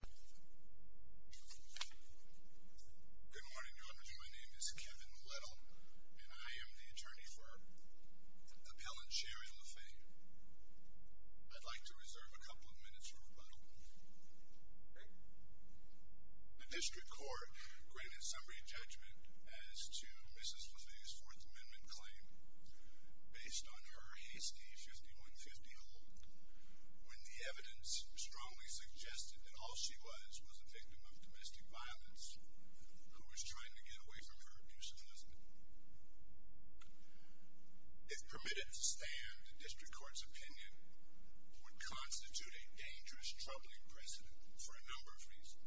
Good morning. My name is Kevin Little, and I am the attorney for Appellant Sherry LeFay. I'd like to reserve a couple of minutes for rebuttal. The District Court granted summary judgment as to Mrs. LeFay's Fourth Amendment claim, based on her hasty 5150 hold, when the evidence strongly suggested that all she was was a victim of domestic violence, who was trying to get away from her abusive husband. If permitted to stand, the District Court's opinion would constitute a dangerous troubling precedent, for a number of reasons.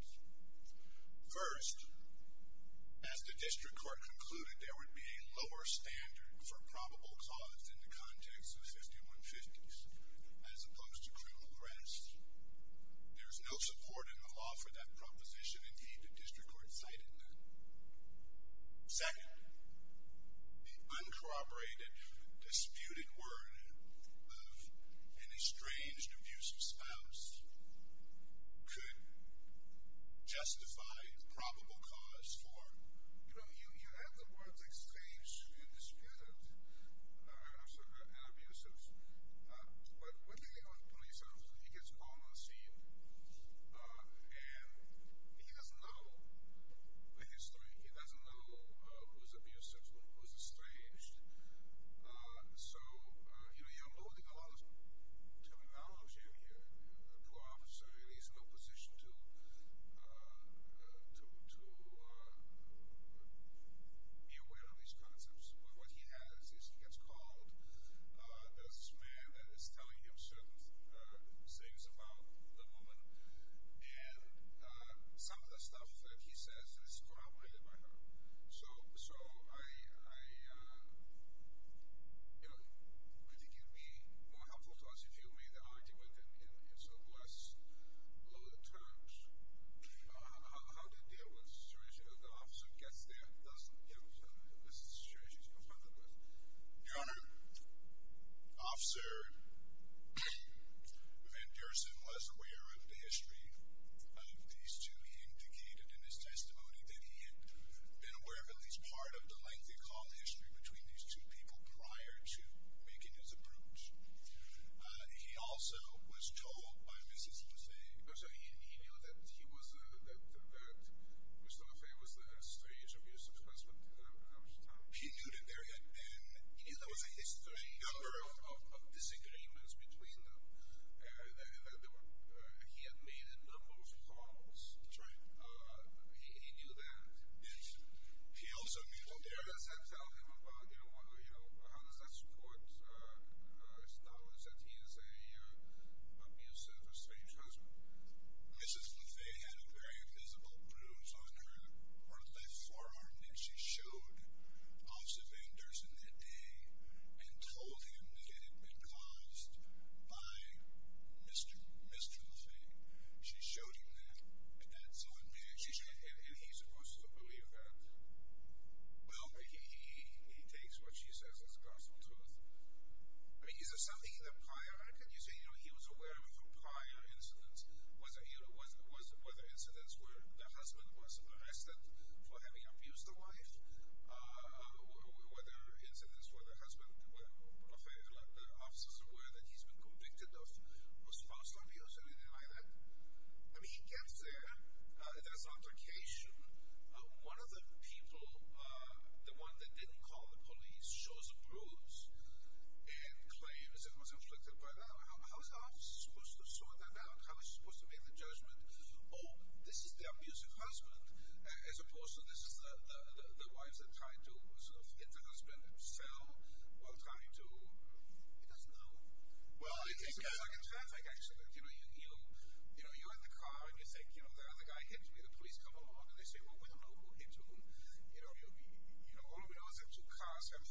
First, as the District Court concluded, there would be a lower standard for probable cause in the context of 5150s, as opposed to criminal arrests. There is no support in the law for that proposition. Indeed, the District Court cited none. Second, the uncorroborated, disputed word of an estranged abusive spouse could justify probable cause for... You know, you add the words estranged and disputed and abusive. But what the hell is a police officer? He gets called on the scene, and he doesn't know the history. He doesn't know who's abusive and who's estranged. So, you know, you're loading a lot of terminology in here. A poor officer really is in no position to be aware of these concepts. But what he has is he gets called. There's this man that is telling him certain things about the woman. And some of the stuff that he says is corroborated by her. So I think it would be more helpful to us if you made an argument in less loaded terms. How did it deal with the situation? The officer gets there, doesn't deal with her, and this is the situation she's confronted with. Your Honor, Officer Van Dersen was aware of the history of these two. He indicated in his testimony that he had been aware of at least part of the lengthy call history between these two people prior to making his approach. He also was told by Mrs. Moussaie, because he knew that Mr. Moussaie was estranged from his ex-husband. He knew that there had been a history of disagreements between them. He had made a number of calls. He knew that. How does that tell him about, you know, how does that support his thoughts that he is a abusive estranged husband? Mrs. Moussaie had a very visible bruise on her left forearm that she showed Officer Van Dersen that day and told him that it had been caused by Mr. Moussaie. She showed him that. And he's supposed to believe that? Well, he takes what she says as the gospel truth. I mean, is there something in the prior, can you say, you know, he was aware of prior incidents? Whether incidents where the husband was arrested for having abused the wife? Were there incidents where the husband, were the officers aware that he's been convicted of false abuse or anything like that? I mean, he gets there. There's an altercation. One of the people, the one that didn't call the police, shows a bruise and claims it was inflicted by that. How is the officer supposed to sort that out? How is she supposed to make the judgment? Oh, this is the abusive husband, as opposed to this is the wife that tried to hit the husband himself while trying to... He doesn't know. Well, I think... It's like in traffic, actually. You know, you're in the car and you think, you know, the guy hit me. The police come along and they say, well, we don't know who hit whom. You know, all we know is that two cars have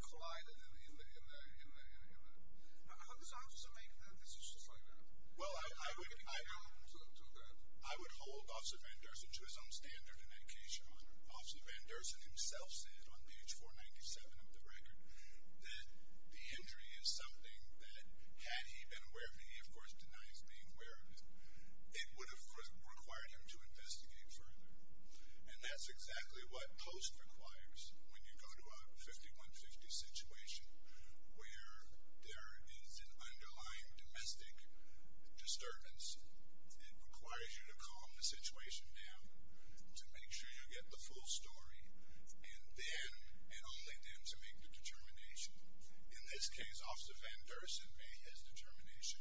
collided in the... How does the officer make that decision? Well, I would hold Officer Van Dersen to his own standard in that case, Your Honor. Officer Van Dersen himself said on page 497 of the record that the injury is something that, had he been aware of it, he of course denies being aware of it, it would have required him to investigate further. And that's exactly what POST requires when you go to a 5150 situation where there is an underlying domestic disturbance. It requires you to calm the situation down, to make sure you get the full story, and then, and only then, to make the determination. In this case, Officer Van Dersen made his determination.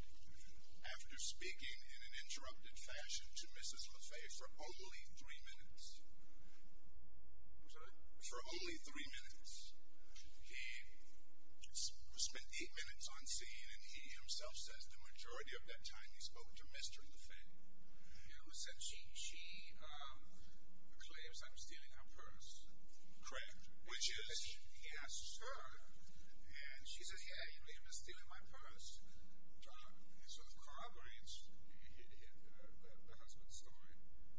After speaking in an interrupted fashion to Mrs. Lafay for only three minutes. What's that? For only three minutes. He spent eight minutes on scene and he himself says the majority of that time he spoke to Mr. Lafay. Yeah, who said she, she, um, claims I'm stealing her purse. Correct. Which is? Yes, sir. And she says, yeah, you may have been stealing my purse. So it corroborates the husband's story.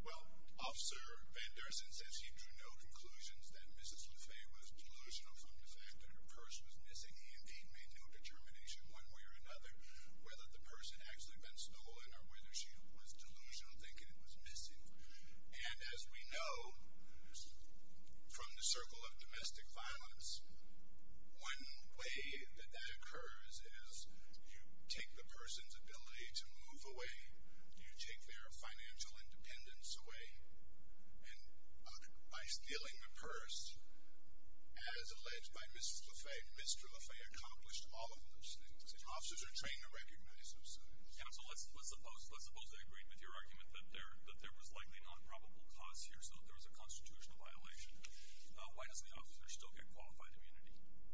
Well, Officer Van Dersen says he drew no conclusions that Mrs. Lafay was delusional from the fact that her purse was missing. He indeed made no determination one way or another whether the purse had actually been stolen or whether she was delusional thinking it was missing. And as we know, from the circle of domestic violence, one way that that occurs is you take the person's ability to move away, you take their financial independence away, and by stealing the purse, as alleged by Mrs. Lafay, Mr. Lafay accomplished all of those things. And officers are trained to recognize those things. Yeah, so let's, let's suppose, let's suppose I agree with your argument that there, that there was likely not probable cause here, so there was a constitutional violation. Why does the officer still get qualified immunity?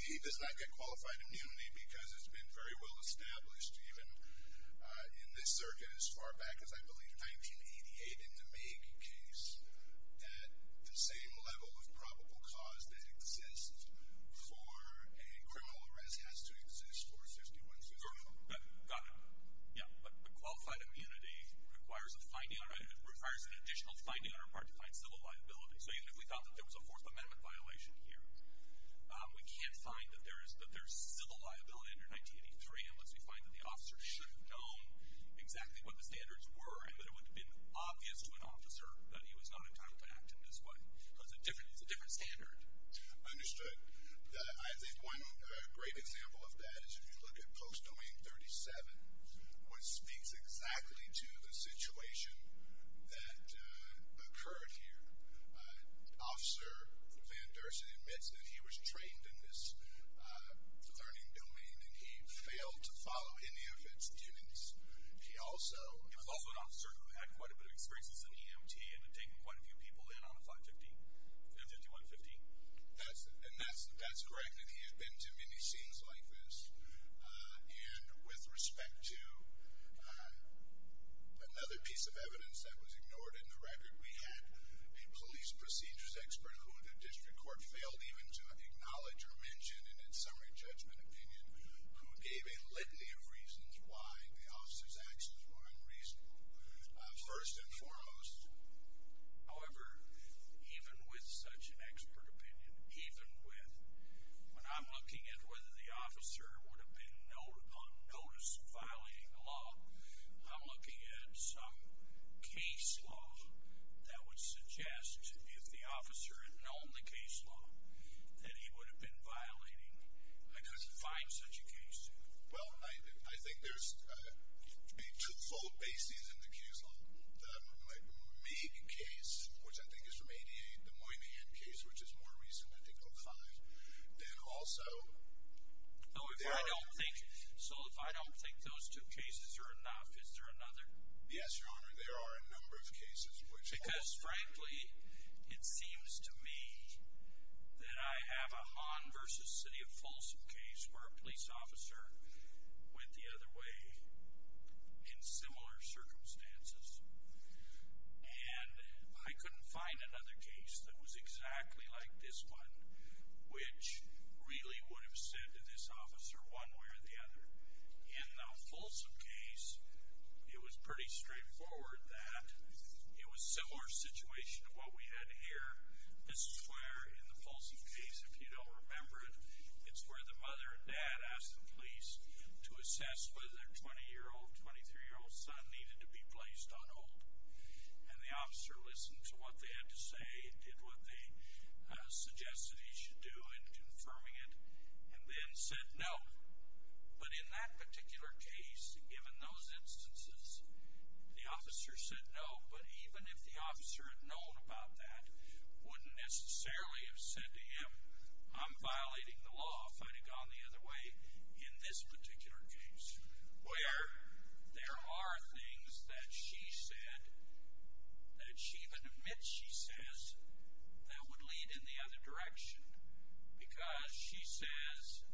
He does not get qualified immunity because it's been very well established, even in this circuit as far back as, I believe, 1988, in the Magee case, that the same level of probable cause that exists for a criminal arrest has to exist for 51-64. Got it. Yeah, but qualified immunity requires a finding, requires an additional finding on our part to find civil liability. So even if we thought that there was a Fourth Amendment violation here, we can't find that there is, that there's civil liability under 1983 unless we find that the officer should have known exactly what the standards were, and that it would have been obvious to an officer that he was not entitled to act in this way. So it's a different, it's a different standard. Understood. I think one great example of that is if you look at Post Domain 37, which speaks exactly to the situation that occurred here. Officer Van Dursen admits that he was trained in this learning domain, and he failed to follow any of its duties. He also, he was also an officer who had quite a bit of experience as an EMT and had taken quite a few people in on the flight 51-15. That's, and that's, that's correct, and he had been to many scenes like this. And with respect to another piece of evidence that was ignored in the record, we had a police procedures expert who the district court failed even to acknowledge or mention in its summary judgment opinion, who gave a litany of reasons why the officer's actions were unreasonable, first and foremost. However, even with such an expert opinion, even with, when I'm looking at whether the officer would have been on notice of violating the law, I'm looking at some case law that would suggest, if the officer had known the case law, that he would have been violating. I couldn't find such a case. Well, I, I think there's a two-fold basis in the case law. The Meade case, which I think is from 88, the Moynihan case, which is more recent, I think, 05, then also, there are. So if I don't think, so if I don't think those two cases are enough, is there another? Yes, Your Honor, there are a number of cases which. Because, frankly, it seems to me that I have a Hahn versus City of Folsom case where a police officer went the other way in similar circumstances. And I couldn't find another case that was exactly like this one, which really would have said to this officer one way or the other. In the Folsom case, it was pretty straightforward that it was a similar situation to what we had here. This is where, in the Folsom case, if you don't remember it, it's where the mother and dad asked the police to assess whether their 20-year-old, 23-year-old son needed to be placed on hold. And the officer listened to what they had to say, did what they suggested he should do in confirming it, and then said no. But in that particular case, given those instances, the officer said no. But even if the officer had known about that, wouldn't necessarily have said to him, I'm violating the law if I'd have gone the other way in this particular case. Where there are things that she said, that she even admits she says, that would lead in the other direction. Because she says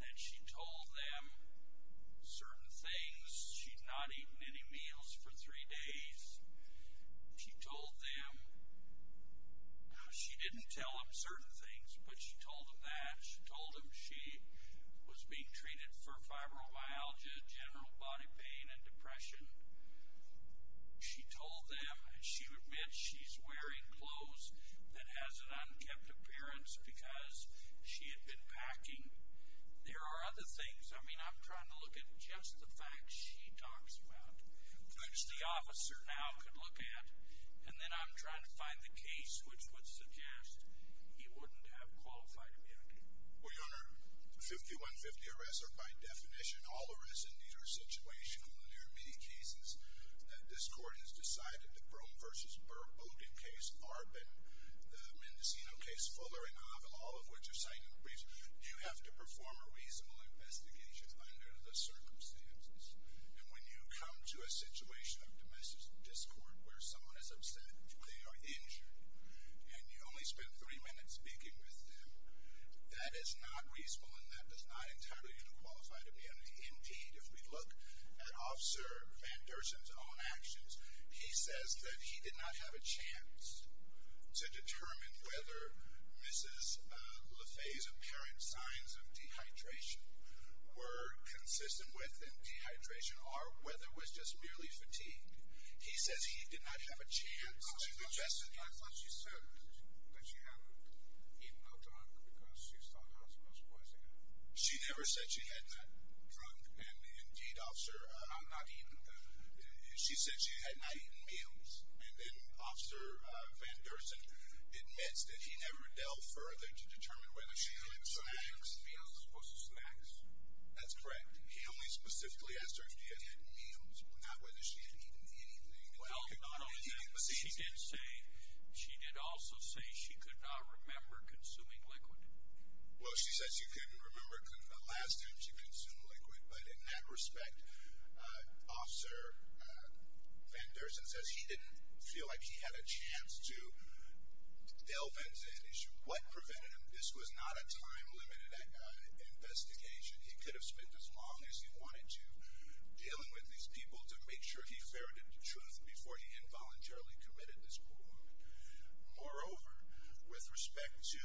that she told them certain things, she'd not eaten any meals for three days. She told them, she didn't tell them certain things, but she told them that. She told them she was being treated for fibromyalgia, general body pain, and depression. She told them, she admits she's wearing clothes that has an unkept appearance because she had been packing. There are other things. I mean, I'm trying to look at just the facts she talks about, which the officer now could look at. And then I'm trying to find the case which would suggest he wouldn't have qualified immunity. Well, Your Honor, 5150 arrests are by definition all arrests in neither situation. In the near-meet cases that this Court has decided, the Brougham v. Burr booting case, ARB, and the Mendocino case, Fuller v. Havel, all of which are cited in the briefs. You have to perform a reasonable investigation under the circumstances. And when you come to a situation of domestic discord where someone is upset, they are injured, and you only spent three minutes speaking with them, that is not reasonable and that does not entirely unqualify to be an indeed. If we look at Officer Van Dersen's own actions, he says that he did not have a chance to determine whether Mrs. LaFay's apparent signs of dehydration were consistent with dehydration or whether it was just merely fatigue. He says he did not have a chance to suggest that. I thought she said that she hadn't eaten no junk because she saw the hospital's poisoning. She never said she had not drunk and indeed, Officer, not eaten. She said she had not eaten meals. And then Officer Van Dersen admits that he never delved further to determine whether she had eaten snacks. Snacks. That's correct. He only specifically asked her if she had eaten meals, not whether she had eaten anything. Well, no, no. She did say, she did also say she could not remember consuming liquid. Well, she says she couldn't remember the last time she consumed liquid. But in that respect, Officer Van Dersen says he didn't feel like he had a chance to delve into an issue. What prevented him? This was not a time-limited investigation. He could have spent as long as he wanted to dealing with these people to make sure he ferreted the truth before he involuntarily committed this crime. Moreover, with respect to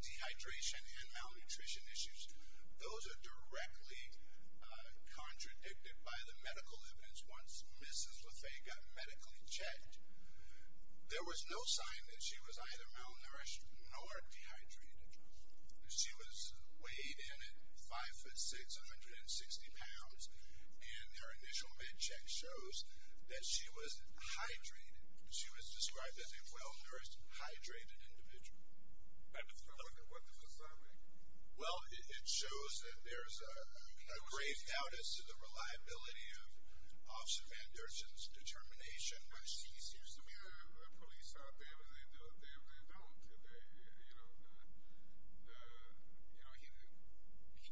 dehydration and malnutrition issues, those are directly contradicted by the medical evidence once Mrs. LaFay got medically checked. There was no sign that she was either malnourished nor dehydrated. She was weighed in at 5'6", 160 pounds, and her initial med check shows that she was hydrated. She was described as a well-nourished, hydrated individual. And what does that mean? Well, it shows that there's a grave doubt as to the reliability of Officer Van Dersen's determination. When she sees the police out there, they don't, you know,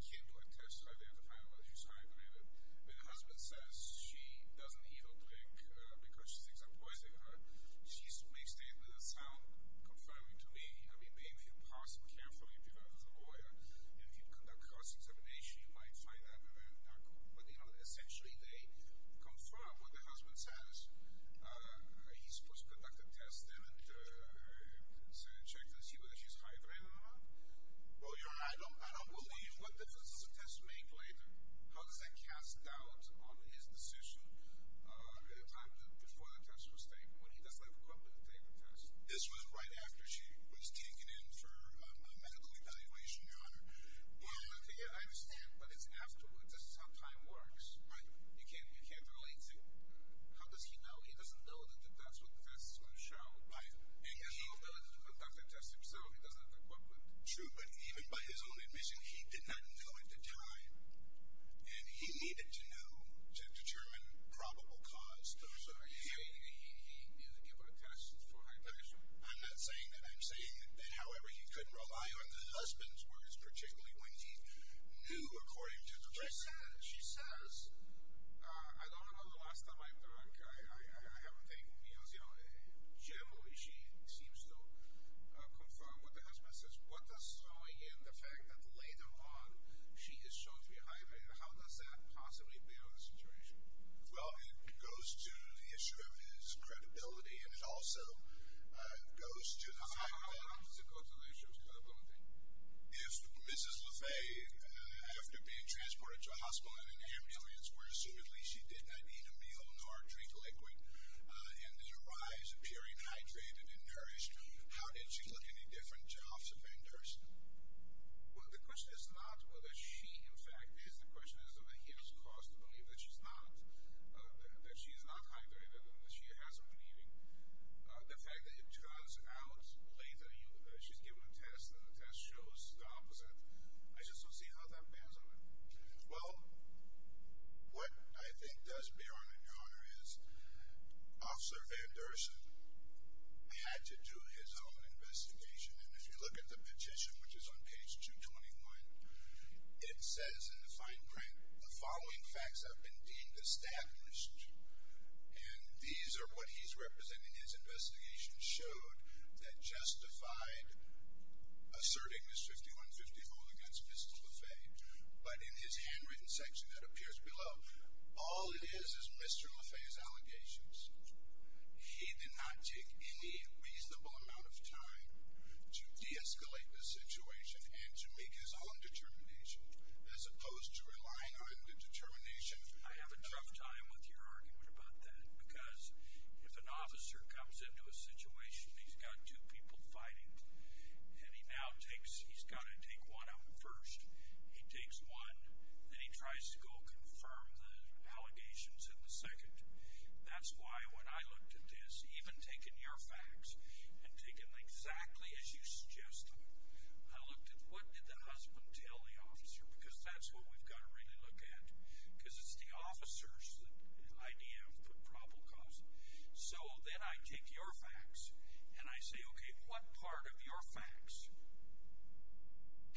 he can't do a test to identify her. The husband says she doesn't eat or drink because she thinks I'm poisoning her. She makes statements that sound confirming to me. I mean, maybe if you parse them carefully if you're not a lawyer, and if you conduct cross-examination, you might find that very, very, not cool. But, you know, essentially they confirm what the husband says. He's supposed to conduct a test then and check to see whether she's hydrated or not. Well, Your Honor, I don't believe what defense is supposed to make later. How does that cast doubt on his decision at the time before the test was taken when he doesn't have equipment to take the test? This was right after she was taken in for a medical evaluation, Your Honor. Okay, yeah, I understand. But it's afterwards. This is how time works. Right. You can't relate to it. How does he know? He doesn't know that that's what the defense is going to show. Right. He has no ability to conduct the test himself. He doesn't have the equipment. True, but even by his own admission, he did not know at the time. And he needed to know to determine probable cause. So are you saying that he didn't give her a test before hydration? I'm not saying that. I'm saying that, however, he couldn't rely on the husband's words particularly when he knew according to the record. She says, I don't remember the last time I've drunk. I haven't taken meals, you know. Generally, she seems to confirm what the husband says. What does throwing in the fact that later on she is chosen to be hired mean? How does that possibly bear on the situation? Well, it goes to the issue of his credibility, and it also goes to the fact that How does it go to the issue of credibility? If Mrs. LaVey, after being transported to a hospital in an ambulance where assumedly she did not eat a meal nor drink liquid and did arise appearing hydrated and nourished, how did she look any different to Officer Van Dersen? Well, the question is not whether she, in fact, is. The question is whether he has cause to believe that she is not hydrated and that she hasn't been eating. The fact that it turns out later, she's given a test and the test shows the opposite. I just don't see how that bands on it. Well, what I think does bear on it, Your Honor, is Officer Van Dersen had to do his own investigation. And if you look at the petition, which is on page 221, it says in the fine print, The following facts have been deemed established, and these are what he's representing. His investigation showed that justified asserting this 5150 rule against Mrs. LaVey. But in his handwritten section that appears below, all it is is Mr. LaVey's allegations. He did not take any reasonable amount of time to de-escalate the situation and to make his own determination as opposed to relying on the determination. I have a tough time with your argument about that because if an officer comes into a situation, he's got two people fighting, and he now takes, he's got to take one of them first. He takes one, then he tries to go confirm the allegations in the second. That's why when I looked at this, even taking your facts and taking them exactly as you suggest them, I looked at what did the husband tell the officer because that's what we've got to really look at because it's the officer's idea of the problem cause. So then I take your facts and I say, okay, what part of your facts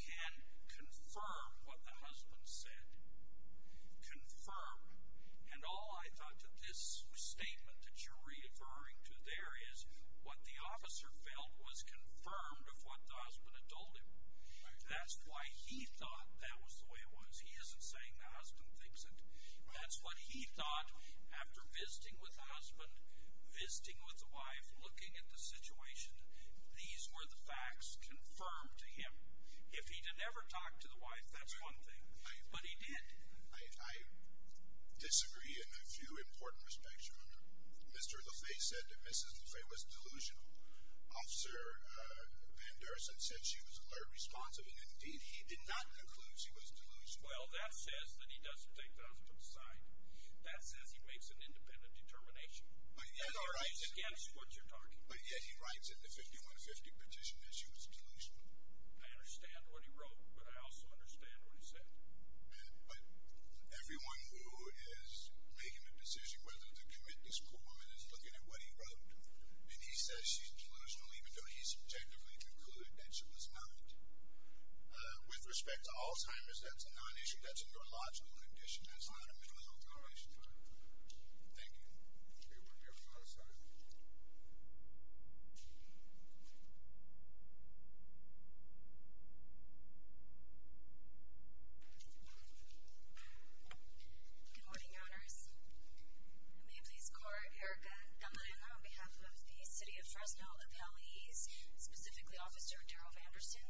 can confirm what the husband said? Confirm. And all I thought that this statement that you're referring to there is what the officer felt was confirmed of what the husband had told him. That's why he thought that was the way it was. He isn't saying the husband thinks it. That's what he thought after visiting with the husband, visiting with the wife, looking at the situation. These were the facts confirmed to him. If he had never talked to the wife, that's one thing, but he did. I disagree in a few important respects. Mr. LeFay said that Mrs. LeFay was delusional. Officer Anderson said she was alert, responsive, and indeed he did not conclude she was delusional. Well, that says that he doesn't take the husband's side. That says he makes an independent determination against what you're talking about. But yet he writes in the 5150 petition that she was delusional. I understand what he wrote, but I also understand what he said. But everyone who is making a decision whether to commit this poor woman is looking at what he wrote, and he says she's delusional even though he subjectively concluded that she was not. With respect to Alzheimer's, that's a non-issue. That's a neurological condition. That's not a mental health condition. Thank you. Okay, we'll be on the other side. Good morning, Your Honors. May it please the Court, Erica D'Amarino on behalf of the City of Fresno appellees, specifically Officer Daryl Anderson.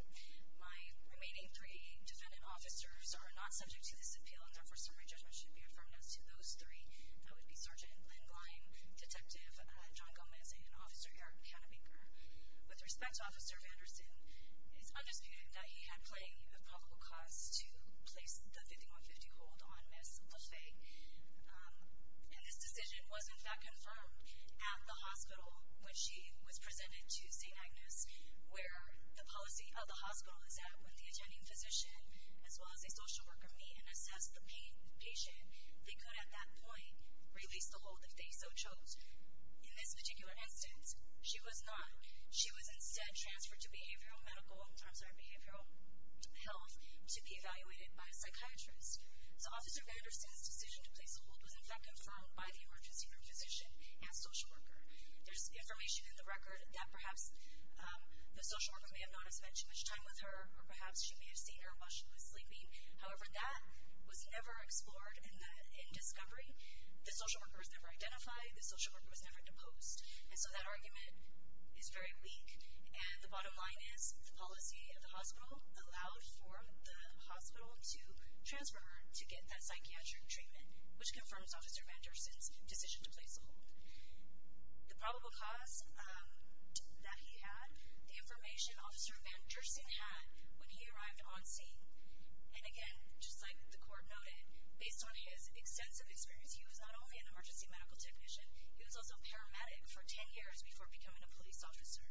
My remaining three defendant officers are not subject to this appeal, and therefore, summary judgment should be affirmed as to those three. That would be Sergeant Lynn Gleim, Detective John Gomez, and Officer Eric Canabaker. With respect to Officer Anderson, it's undisputed that he had played a probable cause to place the 5150 hold on Ms. Lafay. And this decision was, in fact, confirmed at the hospital when she was presented to St. Agnes, where the policy of the hospital is that when the attending physician as well as a social worker meet and assess the patient, they could at that point release the hold if they so chose. In this particular instance, she was not. She was instead transferred to behavioral health to be evaluated by a psychiatrist. So Officer Anderson's decision to place the hold was, in fact, confirmed by the emergency room physician and social worker. There's information in the record that perhaps the social worker may have not have spent too much time with her, or perhaps she may have seen her while she was sleeping. However, that was never explored in discovery. The social worker was never identified. The social worker was never deposed. And so that argument is very weak. And the bottom line is the policy of the hospital allowed for the hospital to transfer her to get that psychiatric treatment, which confirms Officer Anderson's decision to place the hold. The probable cause that he had, the information Officer Anderson had when he arrived on scene, and again, just like the court noted, based on his extensive experience, he was not only an emergency medical technician, he was also a paramedic for 10 years before becoming a police officer.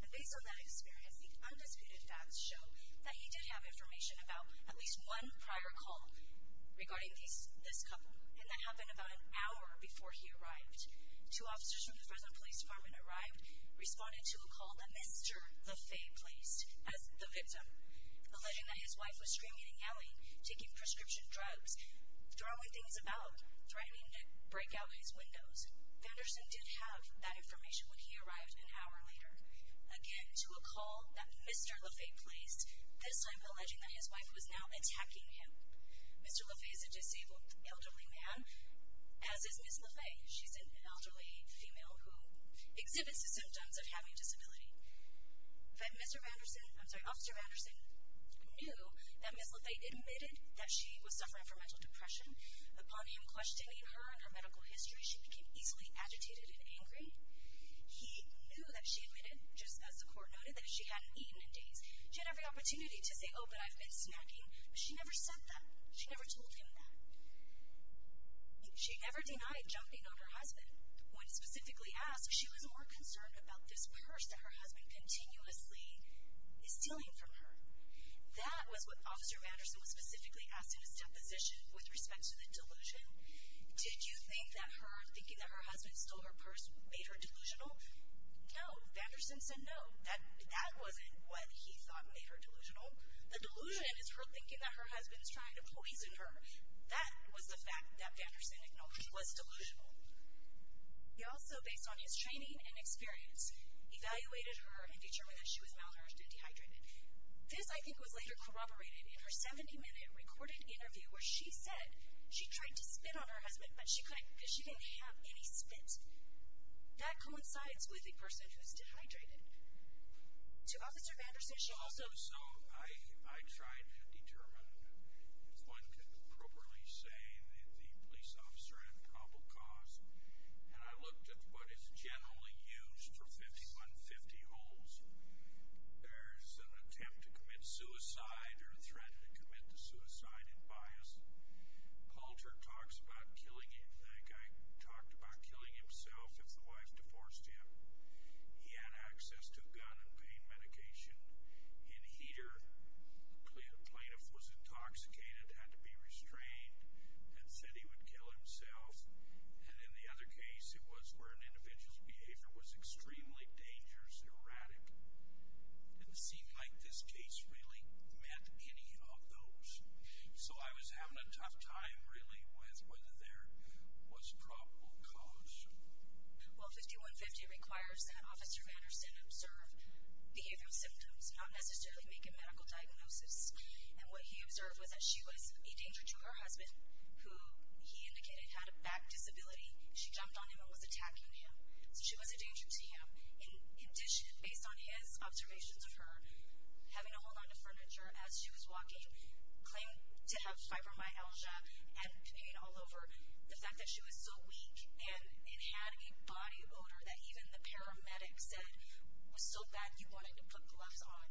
And based on that experience, the undisputed facts show that he did have information about at least one prior call regarding this couple, and that happened about an hour before he arrived. Two officers from the Fresno Police Department arrived, responded to a call that Mr. Lafay placed as the victim, alleging that his wife was screaming and yelling, taking prescription drugs, throwing things about, threatening to break out his windows. Anderson did have that information when he arrived an hour later. Again, to a call that Mr. Lafay placed, this time alleging that his wife was now attacking him. Mr. Lafay is a disabled elderly man, as is Ms. Lafay. She's an elderly female who exhibits the symptoms of having a disability. Officer Anderson knew that Ms. Lafay admitted that she was suffering from mental depression. Upon him questioning her and her medical history, she became easily agitated and angry. He knew that she admitted, just as the court noted, that she hadn't eaten in days. She had every opportunity to say, oh, but I've been snacking, but she never said that. She never told him that. She never denied jumping on her husband. When specifically asked, she was more concerned about this purse that her husband continuously is stealing from her. That was what Officer Anderson was specifically asked in his deposition with respect to the delusion. Did you think that her thinking that her husband stole her purse made her delusional? No. Vanderson said no. That wasn't what he thought made her delusional. The delusion is her thinking that her husband is trying to poison her. That was the fact that Vanderson acknowledged was delusional. He also, based on his training and experience, evaluated her and determined that she was malnourished and dehydrated. This, I think, was later corroborated in her 70-minute recorded interview where she said she tried to spit on her husband, but she couldn't because she didn't have any spit. That coincides with a person who's dehydrated. To Officer Anderson, she also So I tried to determine if one could appropriately say the police officer had a probable cause, and I looked at what is generally used for 5150 holds. There's an attempt to commit suicide or a threat to commit the suicide in bias. Poulter talks about killing him. That guy talked about killing himself if the wife divorced him. He had access to gun and pain medication. In heater, the plaintiff was intoxicated, had to be restrained, and said he would kill himself. And in the other case, it was where an individual's behavior was extremely dangerous and erratic. And it seemed like this case really meant any of those. So I was having a tough time, really, with whether there was a probable cause. Well, 5150 requires that Officer Anderson observe behavioral symptoms, not necessarily make a medical diagnosis. And what he observed was that she was a danger to her husband, who he indicated had a back disability. She jumped on him and was attacking him. So she was a danger to him. In addition, based on his observations of her having to hold on to furniture as she was walking, claiming to have fibromyalgia and pain all over, the fact that she was so weak and had a body odor that even the paramedics said was so bad you wanted to put gloves on,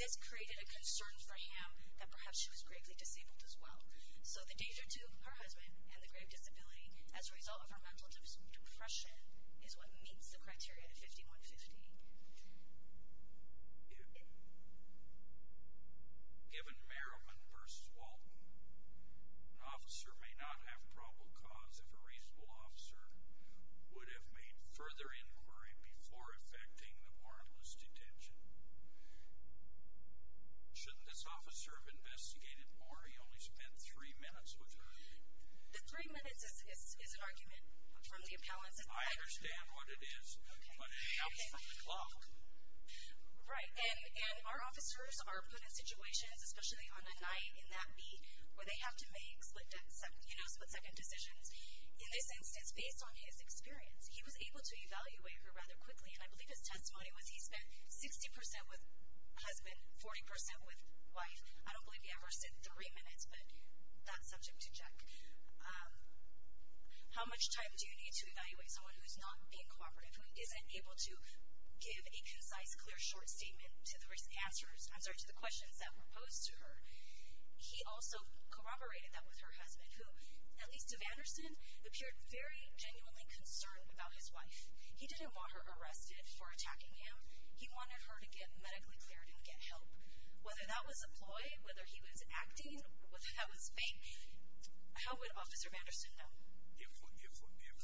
this created a concern for him that perhaps she was gravely disabled as well. So the danger to her husband and the grave disability as a result of her mental depression is what meets the criteria to 5150. Given Merriman v. Walton, an officer may not have probable cause if a reasonable officer would have made further inquiry before effecting the warrantless detention. Shouldn't this officer have investigated more? He only spent three minutes with her. The three minutes is an argument from the appellants. I understand what it is, but it happens from the clock. Right. And our officers are put in situations, especially on a night in that beat, where they have to make split-second decisions. In this instance, based on his experience, he was able to evaluate her rather quickly, and I believe his testimony was he spent 60% with husband, 40% with wife. I don't believe he ever said three minutes, but that's subject to check. How much time do you need to evaluate someone who's not being cooperative, who isn't able to give a concise, clear, short statement to the questions that were posed to her? He also corroborated that with her husband, who, at least to Vanderson, appeared very genuinely concerned about his wife. He didn't want her arrested for attacking him. He wanted her to get medically cleared and get help. Whether that was a ploy, whether he was acting, whether that was fake, how would Officer Vanderson know? If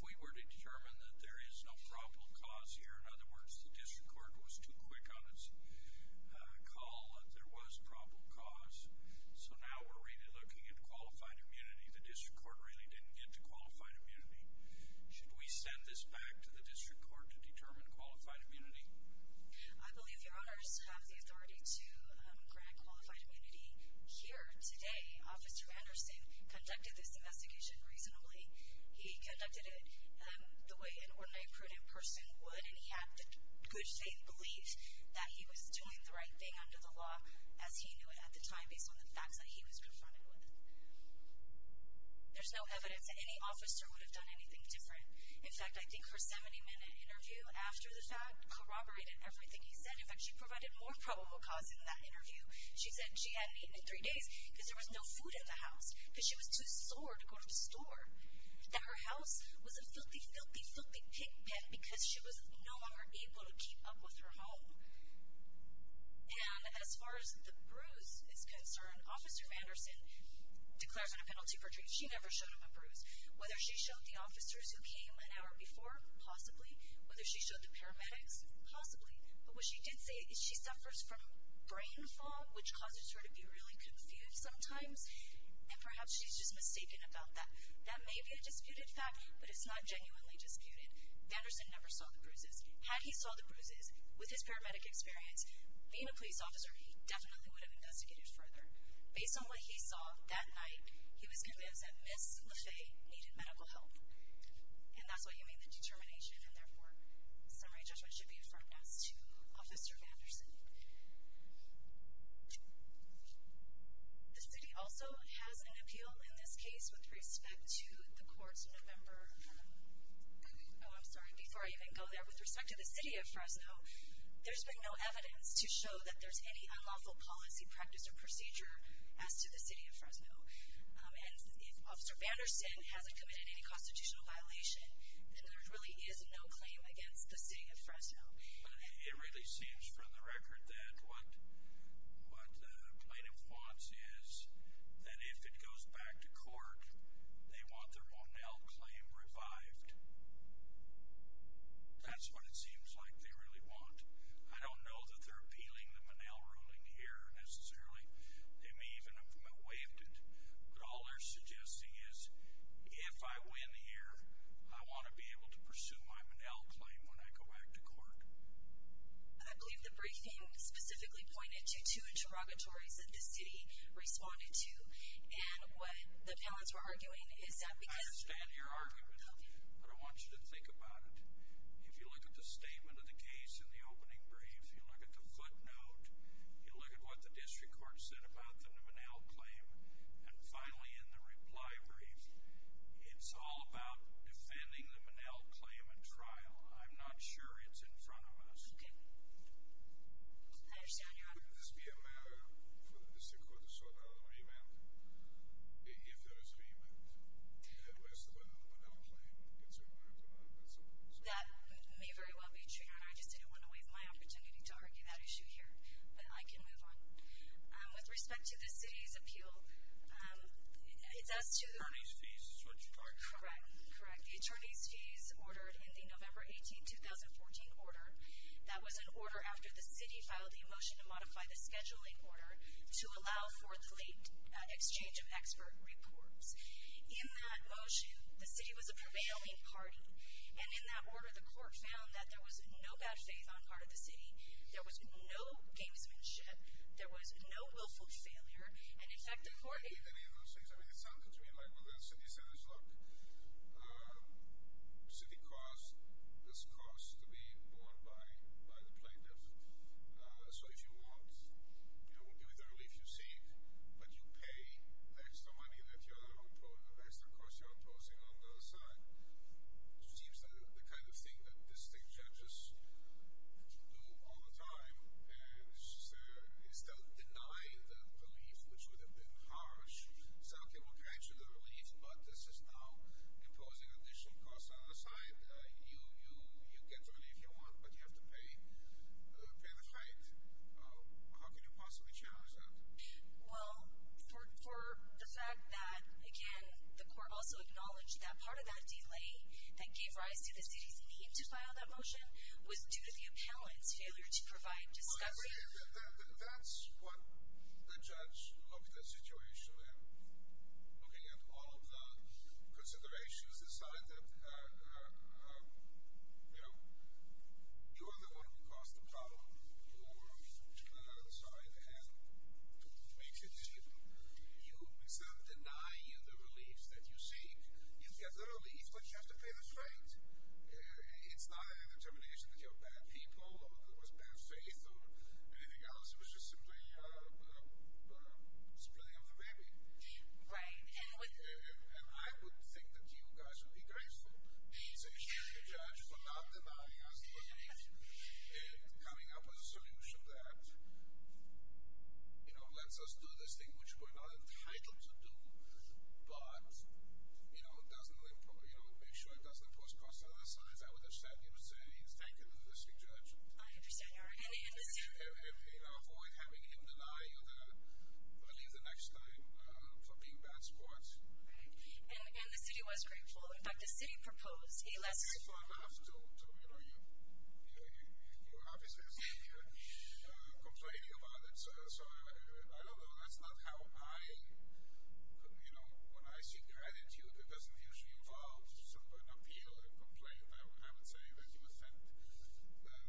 we were to determine that there is no probable cause here, in other words, the district court was too quick on its call that there was probable cause, so now we're really looking at qualified immunity. The district court really didn't get to qualified immunity. Should we send this back to the district court to determine qualified immunity? I believe your honors have the authority to grant qualified immunity. Here today, Officer Vanderson conducted this investigation reasonably. He conducted it the way an ordinary, prudent person would, and he had good faith belief that he was doing the right thing under the law as he knew it at the time, based on the facts that he was confronted with. There's no evidence that any officer would have done anything different. In fact, I think her 70-minute interview after the fact corroborated everything he said. In fact, she provided more probable cause in that interview. She said she hadn't eaten in three days because there was no food in the house, because she was too sore to go to the store, that her house was a filthy, filthy, filthy pig pit because she was no longer able to keep up with her home. And as far as the bruise is concerned, Officer Vanderson declares her a penalty for treason. She never showed him a bruise. Whether she showed the officers who came an hour before, possibly. Whether she showed the paramedics, possibly. But what she did say is she suffers from brain fog, which causes her to be really confused sometimes, and perhaps she's just mistaken about that. That may be a disputed fact, but it's not genuinely disputed. Vanderson never saw the bruises. Had he saw the bruises with his paramedic experience, being a police officer, he definitely would have investigated further. Based on what he saw that night, he was convinced that Ms. LaFay needed medical help. And that's why you made the determination, and therefore, summary judgment should be affirmed as to Officer Vanderson. The city also has an appeal in this case with respect to the courts in November. Oh, I'm sorry, before I even go there. With respect to the city of Fresno, there's been no evidence to show that there's any unlawful policy, practice, or procedure as to the city of Fresno. And if Officer Vanderson hasn't committed any constitutional violation, then there really is no claim against the city of Fresno. It really seems from the record that what plaintiffs want is that if it goes back to court, they want their Monell claim revived. That's what it seems like they really want. I don't know that they're appealing the Monell ruling here necessarily. They may even have waived it. But all they're suggesting is, if I win here, I want to be able to pursue my Monell claim when I go back to court. I believe the briefing specifically pointed to two interrogatories that the city responded to, and what the panelists were arguing is that because— I understand your argument, but I want you to think about it. If you look at the statement of the case in the opening brief, you look at the footnote, you look at what the district court said about the Monell claim, and finally in the reply brief, it's all about defending the Monell claim at trial. I'm not sure it's in front of us. Okay. I understand your argument. Would this be a matter for the district court to sort out a remand? If there is a remand, whereas the Monell claim gets revived, that's a— That may very well be true, and I just didn't want to waive my opportunity to argue that issue here. But I can move on. With respect to the city's appeal, it's as to— Attorney's fees, is what you're talking about. Correct, correct. The attorney's fees ordered in the November 18, 2014 order. That was an order after the city filed the motion to modify the scheduling order to allow for the late exchange of expert reports. In that motion, the city was a prevailing party, and in that order, the court found that there was no bad faith on part of the city, there was no gamesmanship, there was no willful failure, and in fact, the court— I don't believe any of those things. I mean, it sounded to me like, well, the city said, look, city cost is cost to be borne by the plaintiff. So if you want, with the relief you seek, but you pay extra money that you're imposing on the other side, it seems that the kind of thing that district judges do all the time is to deny the relief, which would have been harsh. So, okay, we'll grant you the relief, but this is now imposing additional costs on the side. You get the relief you want, but you have to pay the height. How can you possibly challenge that? Well, for the fact that, again, the court also acknowledged that part of that delay that gave rise to the city's need to file that motion was due to the appellant's failure to provide discussion. That's what the judge looked at the situation, and looking at all of the considerations, decided that, you know, you're the one who caused the problem to the other side, and to make it seem you, instead of denying you the relief that you seek, you get the relief, but you have to pay the straight. It's not a determination that you're bad people, or it was bad faith, or anything else. It was just simply spilling over the baby. Right. And I would think that you guys would be grateful to the judges for not denying us the relief and coming up with a solution that, you know, lets us do this thing which we're not entitled to do, but, you know, make sure it doesn't impose costs on the other side. I understand you're saying it's taken in the district judge. I understand your argument. And avoid having him deny you the relief the next time for being bad sports. Right. And the city was grateful. In fact, the city proposed a less... Grateful enough to, you know, your office is complaining about it. So, I don't know. That's not how I, you know, when I seek gratitude, it doesn't usually involve sort of an appeal and complaint. I would have it say that you offend the judge.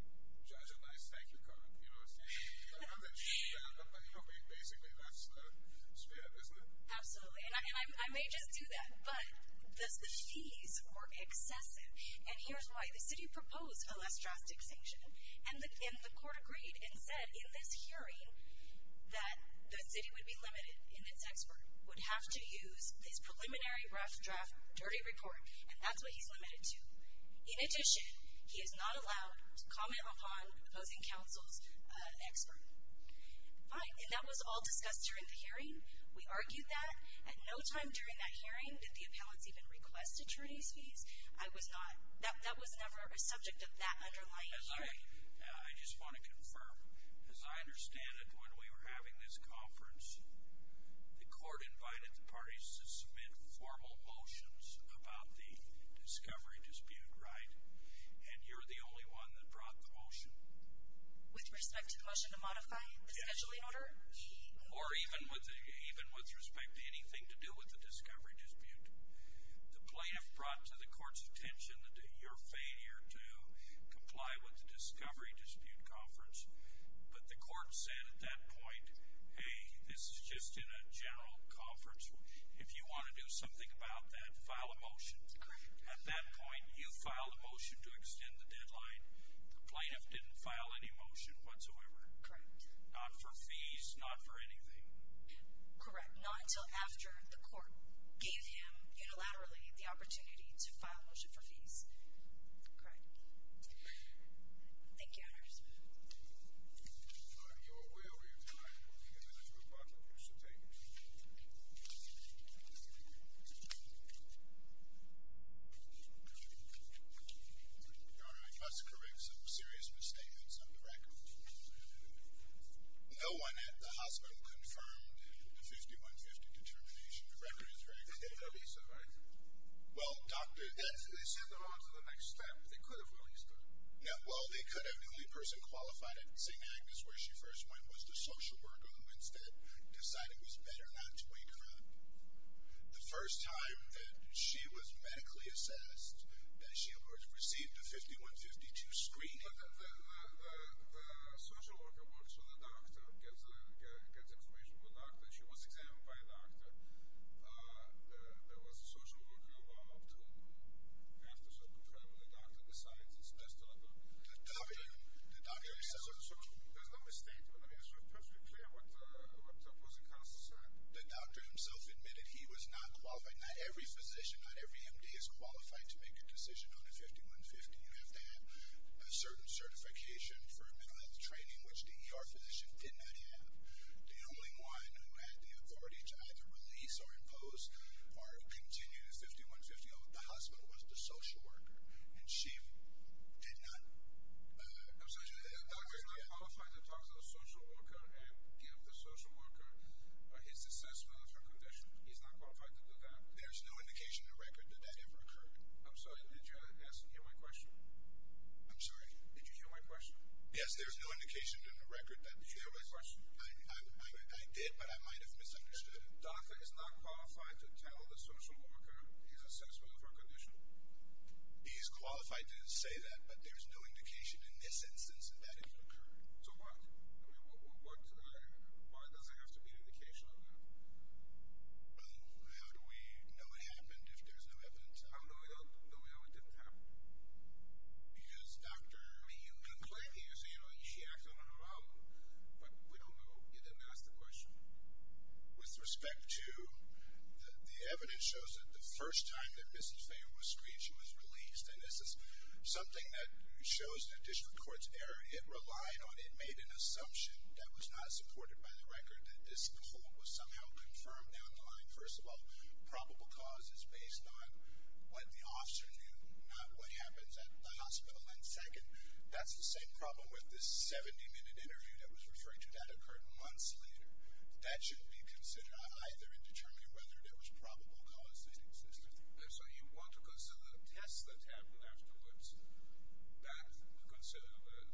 And I thank you for that. You know what I'm saying? But, you know, basically, that's the spirit, isn't it? Absolutely. And I may just do that, but the fees were excessive. And here's why. The city proposed a less drastic sanction. And the court agreed and said, in this hearing, that the city would be limited in its expert, would have to use this preliminary rough draft dirty report, and that's what he's limited to. In addition, he is not allowed to comment upon opposing counsel's expert. Fine. And that was all discussed during the hearing. We argued that. At no time during that hearing did the appellants even request attorney's fees. That was never a subject of that underlying hearing. I just want to confirm. As I understand it, when we were having this conference, the court invited the parties to submit formal motions about the discovery dispute, right? And you're the only one that brought the motion. With respect to the motion to modify the scheduling order? Yes. Or even with respect to anything to do with the discovery dispute. The plaintiff brought to the court's attention your failure to comply with the discovery dispute conference. But the court said at that point, hey, this is just in a general conference. If you want to do something about that, file a motion. Correct. At that point, you filed a motion to extend the deadline. The plaintiff didn't file any motion whatsoever. Correct. Not for fees, not for anything. Correct. Not until after the court gave him, unilaterally, the opportunity to file a motion for fees. Thank you, Your Honor. Your will, Your Honor, will be in the judge's report. Please take it. Your Honor, I must correct some serious misstatements of the record. No one at the hospital confirmed the 5150 determination. The record is very clear. They didn't release her, right? Well, Doctor, that's They said they're on to the next step. They could have released her. Yeah, well, they could have. The only person qualified at St. Agnes where she first went was the social worker who instead decided it was better not to wake her up. The first time that she was medically assessed, that she received a 5152 screening Well, the social worker works for the doctor, gets information from the doctor. She was examined by a doctor. There was a social worker involved after certain time, and the doctor decides it's best to let her go. The doctor himself There's no misstatement of it. It's perfectly clear what the opposing counsel said. The doctor himself admitted he was not qualified. Not every physician, not every MD is qualified to make a decision on a 5150. You have to have a certain certification for a middle-health training, which the ER physician did not have. The only one who had the authority to either release or impose or continue the 5150 at the hospital was the social worker. And she did not I'm sorry. The doctor is not qualified to talk to the social worker and give the social worker his assessment of her condition. He's not qualified to do that. There's no indication in the record that that ever occurred. I'm sorry. Did you hear my question? I'm sorry. Did you hear my question? Yes, there's no indication in the record that Did you hear my question? I did, but I might have misunderstood it. The doctor is not qualified to tell the social worker his assessment of her condition. He's qualified to say that, but there's no indication in this instance that it occurred. So what? Why does there have to be an indication of that? How do we know it happened if there's no evidence? How do we know it didn't happen? Because, Doctor, I mean, you can claim to use it. You know, she acts on her own. But we don't know. You didn't ask the question. With respect to the evidence shows that the first time that Mrs. Fayot was screeched, she was released. And this is something that shows the district court's error. It relied on it. It made an assumption that was not supported by the record, that this poll was somehow confirmed. First of all, probable cause is based on what the officer knew, not what happens at the hospital. And second, that's the same problem with this 70-minute interview that was referring to that occurred months later. That shouldn't be considered either in determining whether there was probable cause that existed. So you want to consider the tests that happened afterwards, that consider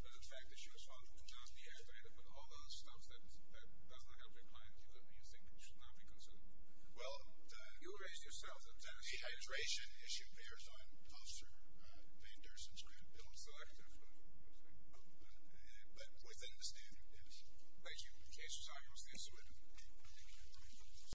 the fact that she was found to just be dehydrated, but all those stuff that doesn't help your client, you think should not be considered? Well, you raised yourself. Dehydration issue bears on officer Fayot-Durston's grant bill. It's still active. But within the standard, yes. Thank you. Case resolved. We'll see you soon.